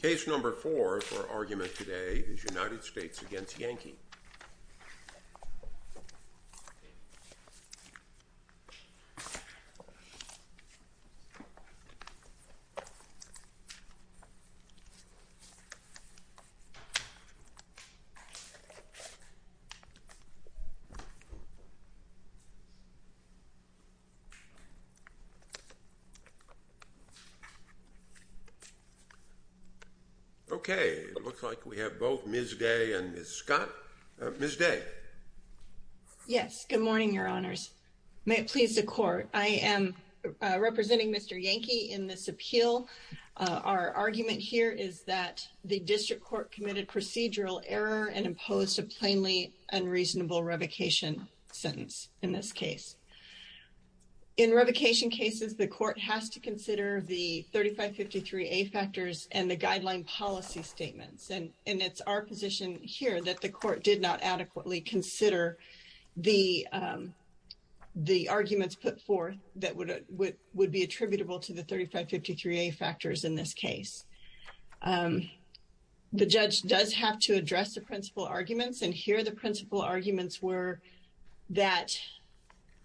Case number four for argument today is United States v. Yankee. Okay, it looks like we have both Ms. Day and Ms. Scott. Ms. Day. Yes, good morning, your honors. May it please the court. I am representing Mr. Yankee in this appeal. Our argument here is that the district court committed procedural error and imposed a plainly unreasonable revocation sentence in this case. In revocation cases, the court has to consider the 3553A factors and the guideline policy statements. And it's our position here that the court did not adequately consider the arguments put forth that would be attributable to the 3553A factors in this case. The judge does have to address the principal arguments. And here the principal arguments were that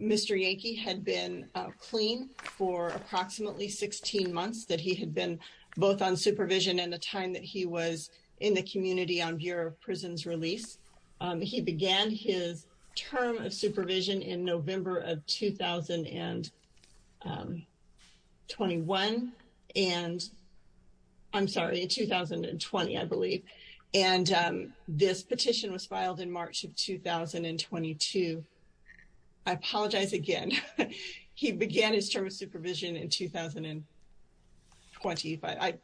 Mr. Yankee had been clean for approximately 16 months, that he had been both on supervision and the time that he was in the community on Bureau of Prisons release. He began his term of supervision in November of 2021 and I'm sorry, 2020, I believe. And this petition was filed in March of 2022. I apologize again. He began his term of supervision in 2020.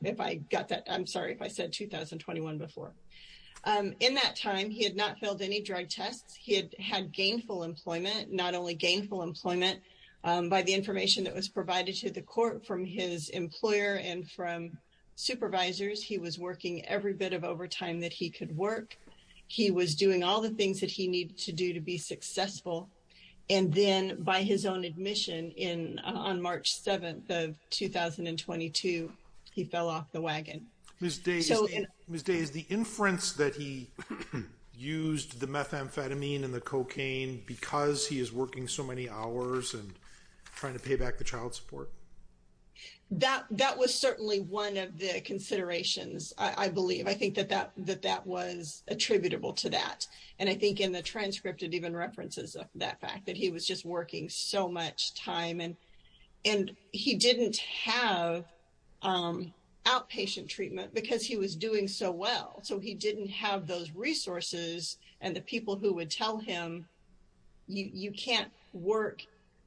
If I got that, I'm sorry if I said 2021 before. In that time, he had not filled any drug tests. He had had gainful employment, not only gainful employment by the information that was provided to the court from his employer and from supervisors. He was working every bit of overtime that he could work. He was doing all the things that he needed to do to be successful. And then by his own admission on March 7th of 2022, he fell off the wagon. Ms. Day, is the inference that he used the methamphetamine and the cocaine because he is working so many hours and trying to pay back the child support? That that was certainly one of the considerations, I believe. I think that that that that was attributable to that. And I think in the transcript it even references that fact that he was just working so much time and and he didn't have outpatient treatment because he was doing so well. So he didn't have those resources and the people who would tell him you can't work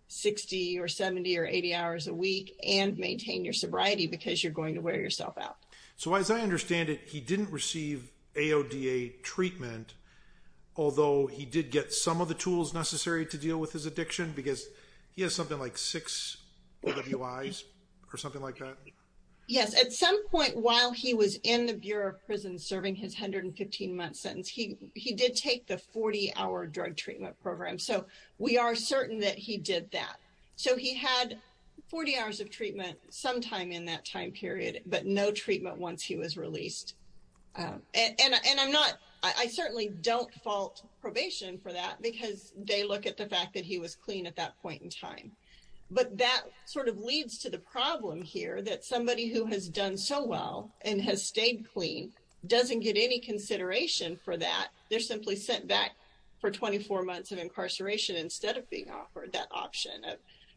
60 or 70 or 80 hours a week and maintain your sobriety because you're going to wear yourself out. So as I understand it, he didn't receive AODA treatment, although he did get some of the tools necessary to deal with his addiction because he has something like six or something like that. Yes, at some point while he was in the Bureau of Prison serving his 115 month sentence, he he did take the 40 hour drug treatment program. So we are certain that he did that. So he had 40 hours of treatment sometime in that time period, but no treatment once he was released. And I'm not I certainly don't fault probation for that because they look at the fact that he was clean at that point in time. But that sort of leads to the problem here that somebody who has done so well and has stayed clean doesn't get any consideration for that. They're simply sent back for 24 months of incarceration instead of being offered that option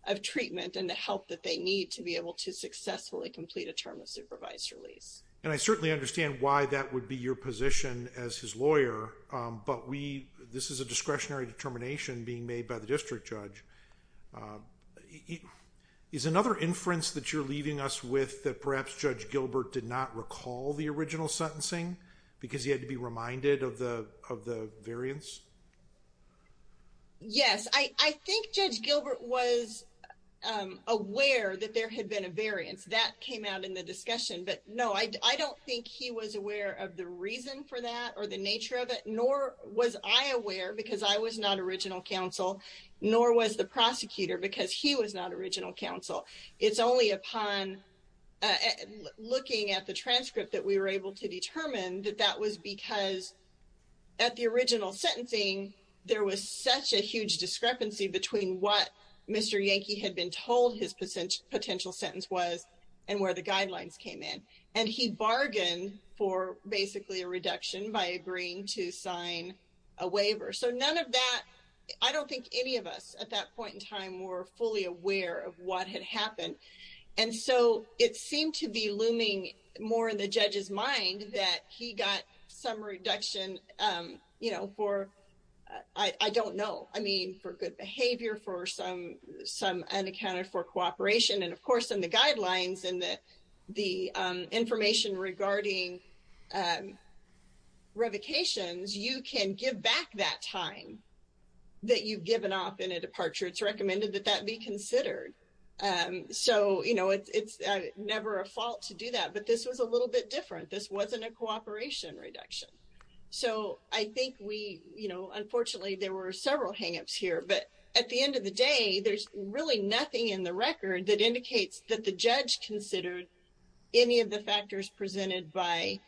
of treatment and the help that they need to be able to successfully complete a term of supervised release. And I certainly understand why that would be your position as his lawyer. But we this is a discretionary determination being made by the district judge. He is another inference that you're leaving us with that perhaps Judge Gilbert did not recall the original sentencing because he had to be reminded of the of the variance. Yes, I think Judge Gilbert was aware that there had been a variance that came out in the discussion. But no, I don't think he was aware of the reason for that or the nature of it, nor was I aware because I was not original counsel, nor was the prosecutor because he was not original counsel. It's only upon looking at the transcript that we were able to determine that that was because at the original sentencing, there was such a huge discrepancy between what Mr. Yankee had been told his potential sentence was and where the guidelines came in. And he bargained for basically a reduction by agreeing to sign a waiver. So none of that. I don't think any of us at that point in time were fully aware of what had happened. And so it seemed to be looming more in the judge's mind that he got some reduction, you know, for I don't know, I mean, for good behavior, for some some unaccounted for cooperation. And of course, in the guidelines and the information regarding revocations, you can give back that time that you've given up in a departure. It's recommended that that be considered. So, you know, it's never a fault to do that. But this was a little bit different. This wasn't a cooperation reduction. So I think we, you know, unfortunately, there were several hang ups here. But at the end of the day, there's really nothing in the record that indicates that the judge considered any of the factors presented by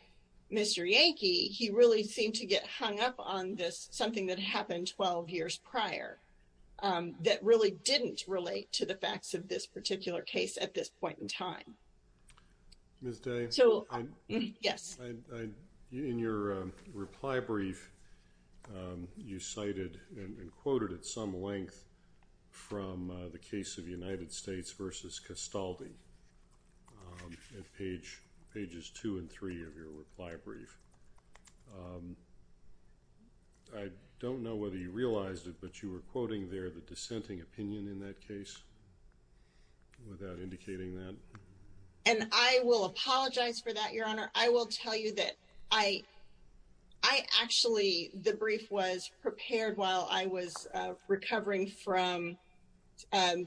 Mr. Yankee. He really seemed to get hung up on this, something that happened 12 years prior that really didn't relate to the facts of this particular case at this point in time. Ms. Day. So, yes. In your reply brief, you cited and quoted at some length from the case of United States versus Castaldi at page pages two and three of your reply brief. I don't know whether you realized it, but you were quoting there the dissenting opinion in that case without indicating that. And I will apologize for that, Your Honor. I will tell you that I I actually the brief was prepared while I was recovering from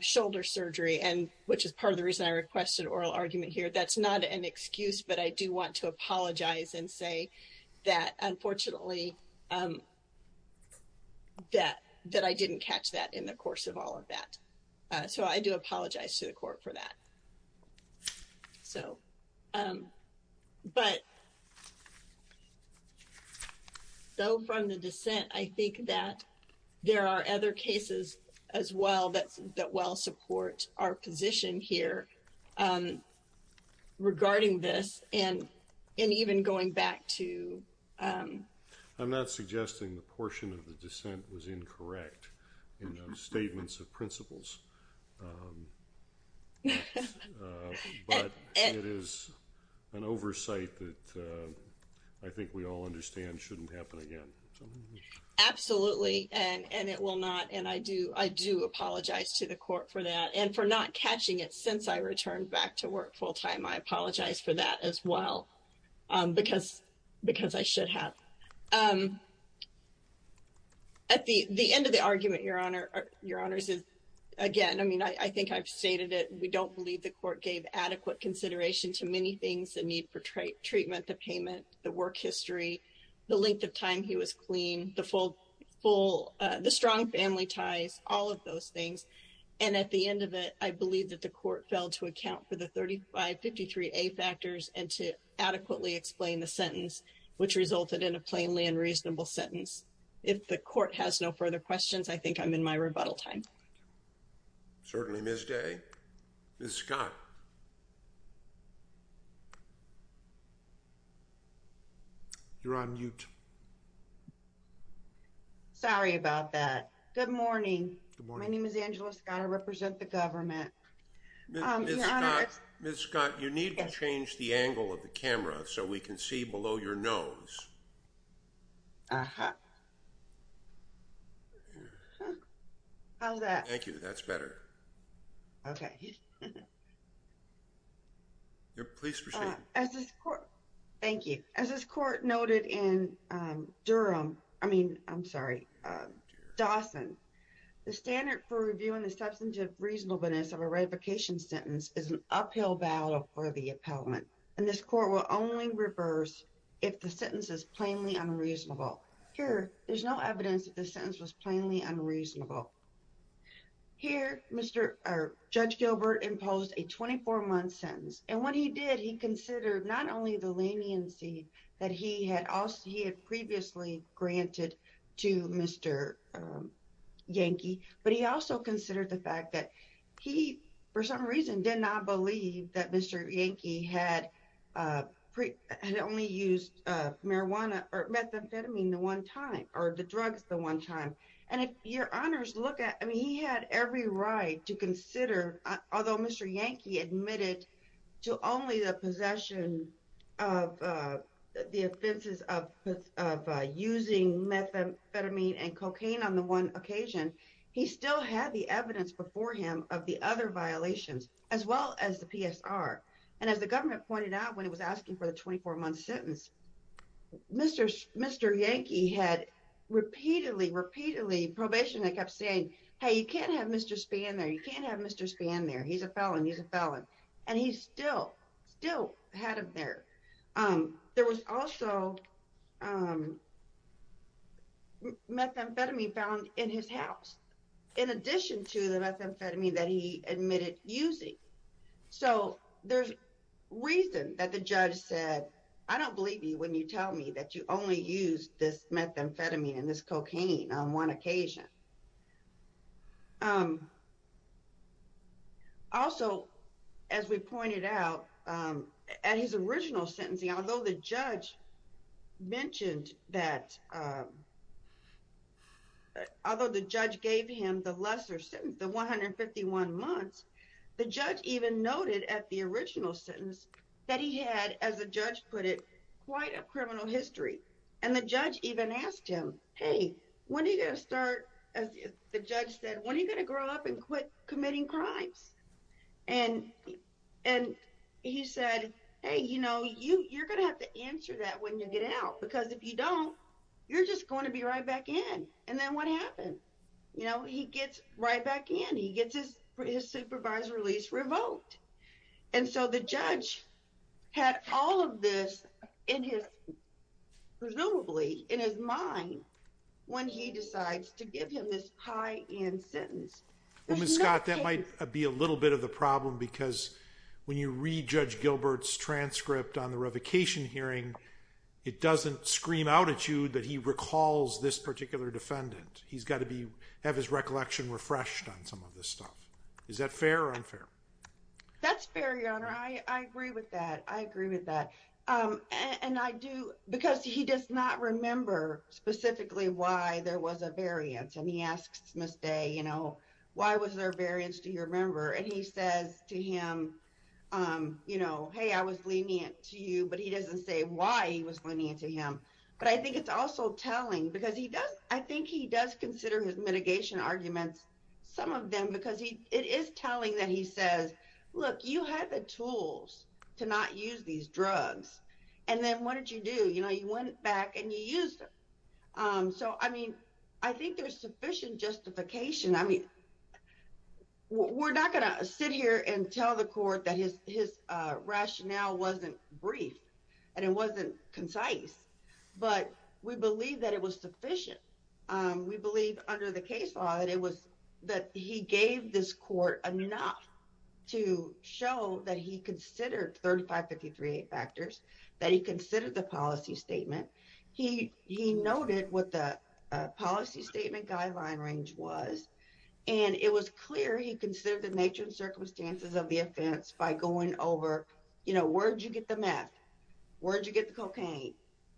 shoulder surgery and which is part of the reason I requested oral argument here. That's not an excuse, but I do want to apologize and say that unfortunately that that I didn't catch that in the course of all of that. So I do apologize to the court for that. So. But. So from the dissent, I think that there are other cases as well that that well support our position here regarding this and and even going back to. I'm not suggesting the portion of the dissent was incorrect in statements of principles. But it is an oversight that I think we all understand shouldn't happen again. Absolutely. And it will not. And I do I do apologize to the court for that and for not catching it since I returned back to work full time. I apologize for that as well, because because I should have. At the end of the argument, your honor, your honors is again, I mean, I think I've stated it. We don't believe the court gave adequate consideration to many things that need for treatment, the payment, the work history, the length of time he was clean, the full full, the strong family ties, all of those things. And at the end of it, I believe that the court fell to account for the thirty five fifty three factors and to adequately explain the sentence, which resulted in a plainly and reasonable sentence. If the court has no further questions, I think I'm in my rebuttal time. Certainly, Miss Day is Scott. You're on mute. Sorry about that. Good morning. Good morning. My name is Angela Scott. I represent the government. Miss Scott, you need to change the angle of the camera so we can see below your nose. How's that? Thank you. That's better. OK. You're pleased as this court. Thank you. As this court noted in Durham, I mean, I'm sorry, Dawson, the standard for reviewing the substantive reasonableness of a revocation sentence is an uphill battle for the appellant. And this court will only reverse if the sentence is plainly unreasonable. Here, there's no evidence that the sentence was plainly unreasonable. Here, Mr. Judge Gilbert imposed a twenty four month sentence. And what he did, he considered not only the leniency that he had previously granted to Mr. Yankee, but he also considered the fact that he, for some reason, did not believe that Mr. Yankee had only used marijuana or methamphetamine the one time or the drugs the one time. And if your honors look at, I mean, he had every right to consider, although Mr. Yankee admitted to only the possession of the offenses of using methamphetamine and cocaine on the one occasion, he still had the evidence before him of the other violations as well as the PSR. And as the government pointed out when it was asking for the twenty four month sentence, Mr. Mr. Yankee had repeatedly, repeatedly probation. I kept saying, hey, you can't have Mr. Spann there. You can't have Mr. Spann there. He's a felon. He's a felon. And he's still still had him there. There was also methamphetamine found in his house in addition to the methamphetamine that he admitted using. So there's reason that the judge said, I don't believe you when you tell me that you only use this methamphetamine and this cocaine on one occasion. Also, as we pointed out at his original sentencing, although the judge mentioned that, although the judge gave him the lesser sentence, the 151 months, the judge even noted at the original sentence that he had, as the judge put it, quite a criminal history. And the judge even asked him, hey, when are you going to start? As the judge said, when are you going to grow up and quit committing crimes? And and he said, hey, you know, you you're going to have to answer that when you get out, because if you don't, you're just going to be right back in. And then what happened? You know, he gets right back in. He gets his supervisor released, revoked. And so the judge had all of this in his presumably in his mind when he decides to give him this high end sentence. Well, Miss Scott, that might be a little bit of the problem, because when you read Judge Gilbert's transcript on the revocation hearing, it doesn't scream out at you that he recalls this particular defendant. He's got to be have his recollection refreshed on some of this stuff. That's fair, your honor. I agree with that. I agree with that. And I do because he does not remember specifically why there was a variance. And he asks Miss Day, you know, why was there a variance? Do you remember? And he says to him, you know, hey, I was lenient to you, but he doesn't say why he was lenient to him. But I think it's also telling because he does. I think he does consider his mitigation arguments, some of them, because it is telling that he says, look, you had the tools to not use these drugs. And then what did you do? You know, you went back and you use them. So, I mean, I think there's sufficient justification. I mean, we're not going to sit here and tell the court that his rationale wasn't brief and it wasn't concise. But we believe that it was sufficient. We believe under the case law that it was that he gave this court enough to show that he considered 3553 factors that he considered the policy statement. He noted what the policy statement guideline range was, and it was clear he considered the nature and circumstances of the offense by going over, you know, where'd you get the meth? Where'd you get the cocaine?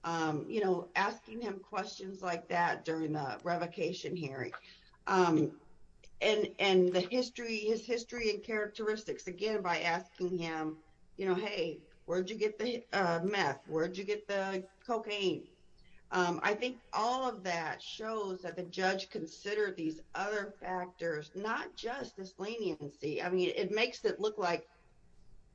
You know, asking him questions like that during the revocation hearing. And the history, his history and characteristics, again, by asking him, you know, hey, where'd you get the meth? Where'd you get the cocaine? I think all of that shows that the judge considered these other factors, not just this leniency. I mean, it makes it look like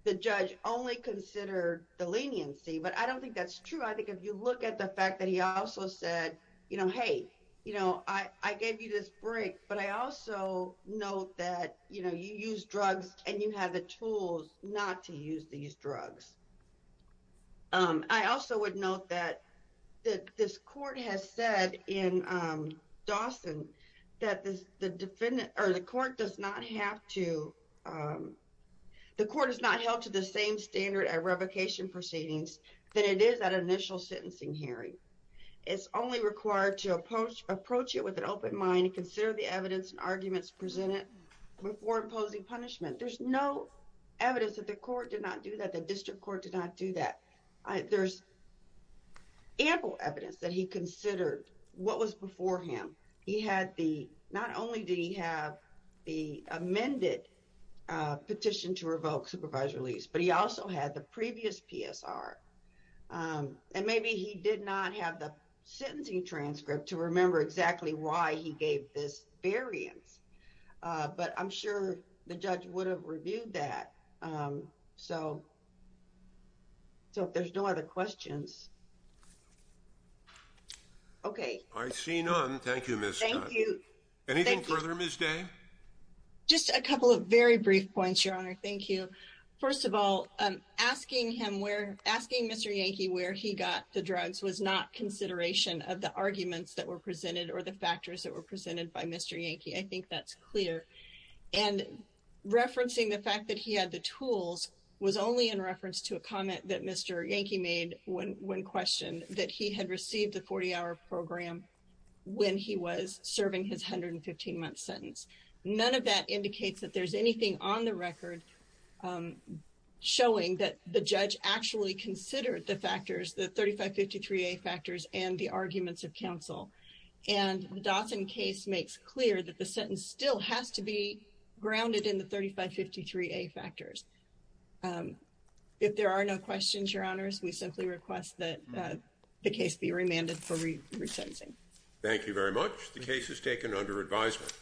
the judge only considered the leniency, but I don't think that's true. I think if you look at the fact that he also said, you know, hey, you know, I gave you this break, but I also note that, you know, you use drugs and you have the tools not to use these drugs. I also would note that this court has said in Dawson that the defendant or the court does not have to, the court is not held to the same standard at revocation proceedings that it is at initial sentencing hearing. It's only required to approach it with an open mind and consider the evidence and arguments presented before imposing punishment. There's no evidence that the court did not do that, the district court did not do that. There's ample evidence that he considered what was before him. He had the, not only did he have the amended petition to revoke supervised release, but he also had the previous PSR. And maybe he did not have the sentencing transcript to remember exactly why he gave this variance. But I'm sure the judge would have reviewed that. So. So if there's no other questions. Okay. I see none. Thank you, Miss. Thank you. Anything further, Miss Day. Just a couple of very brief points, Your Honor. Thank you. First of all, asking him where, asking Mr. Yankee where he got the drugs was not consideration of the arguments that were presented or the factors that were presented by Mr. Yankee. I think that's clear. And referencing the fact that he had the tools was only in reference to a comment that Mr. Yankee made when questioned that he had received the 40-hour program when he was serving his 115-month sentence. None of that indicates that there's anything on the record showing that the judge actually considered the factors, the 3553A factors and the arguments of counsel. And the Dawson case makes clear that the sentence still has to be grounded in the 3553A factors. If there are no questions, Your Honors, we simply request that the case be remanded for resentencing. Thank you very much. The case is taken under advisement.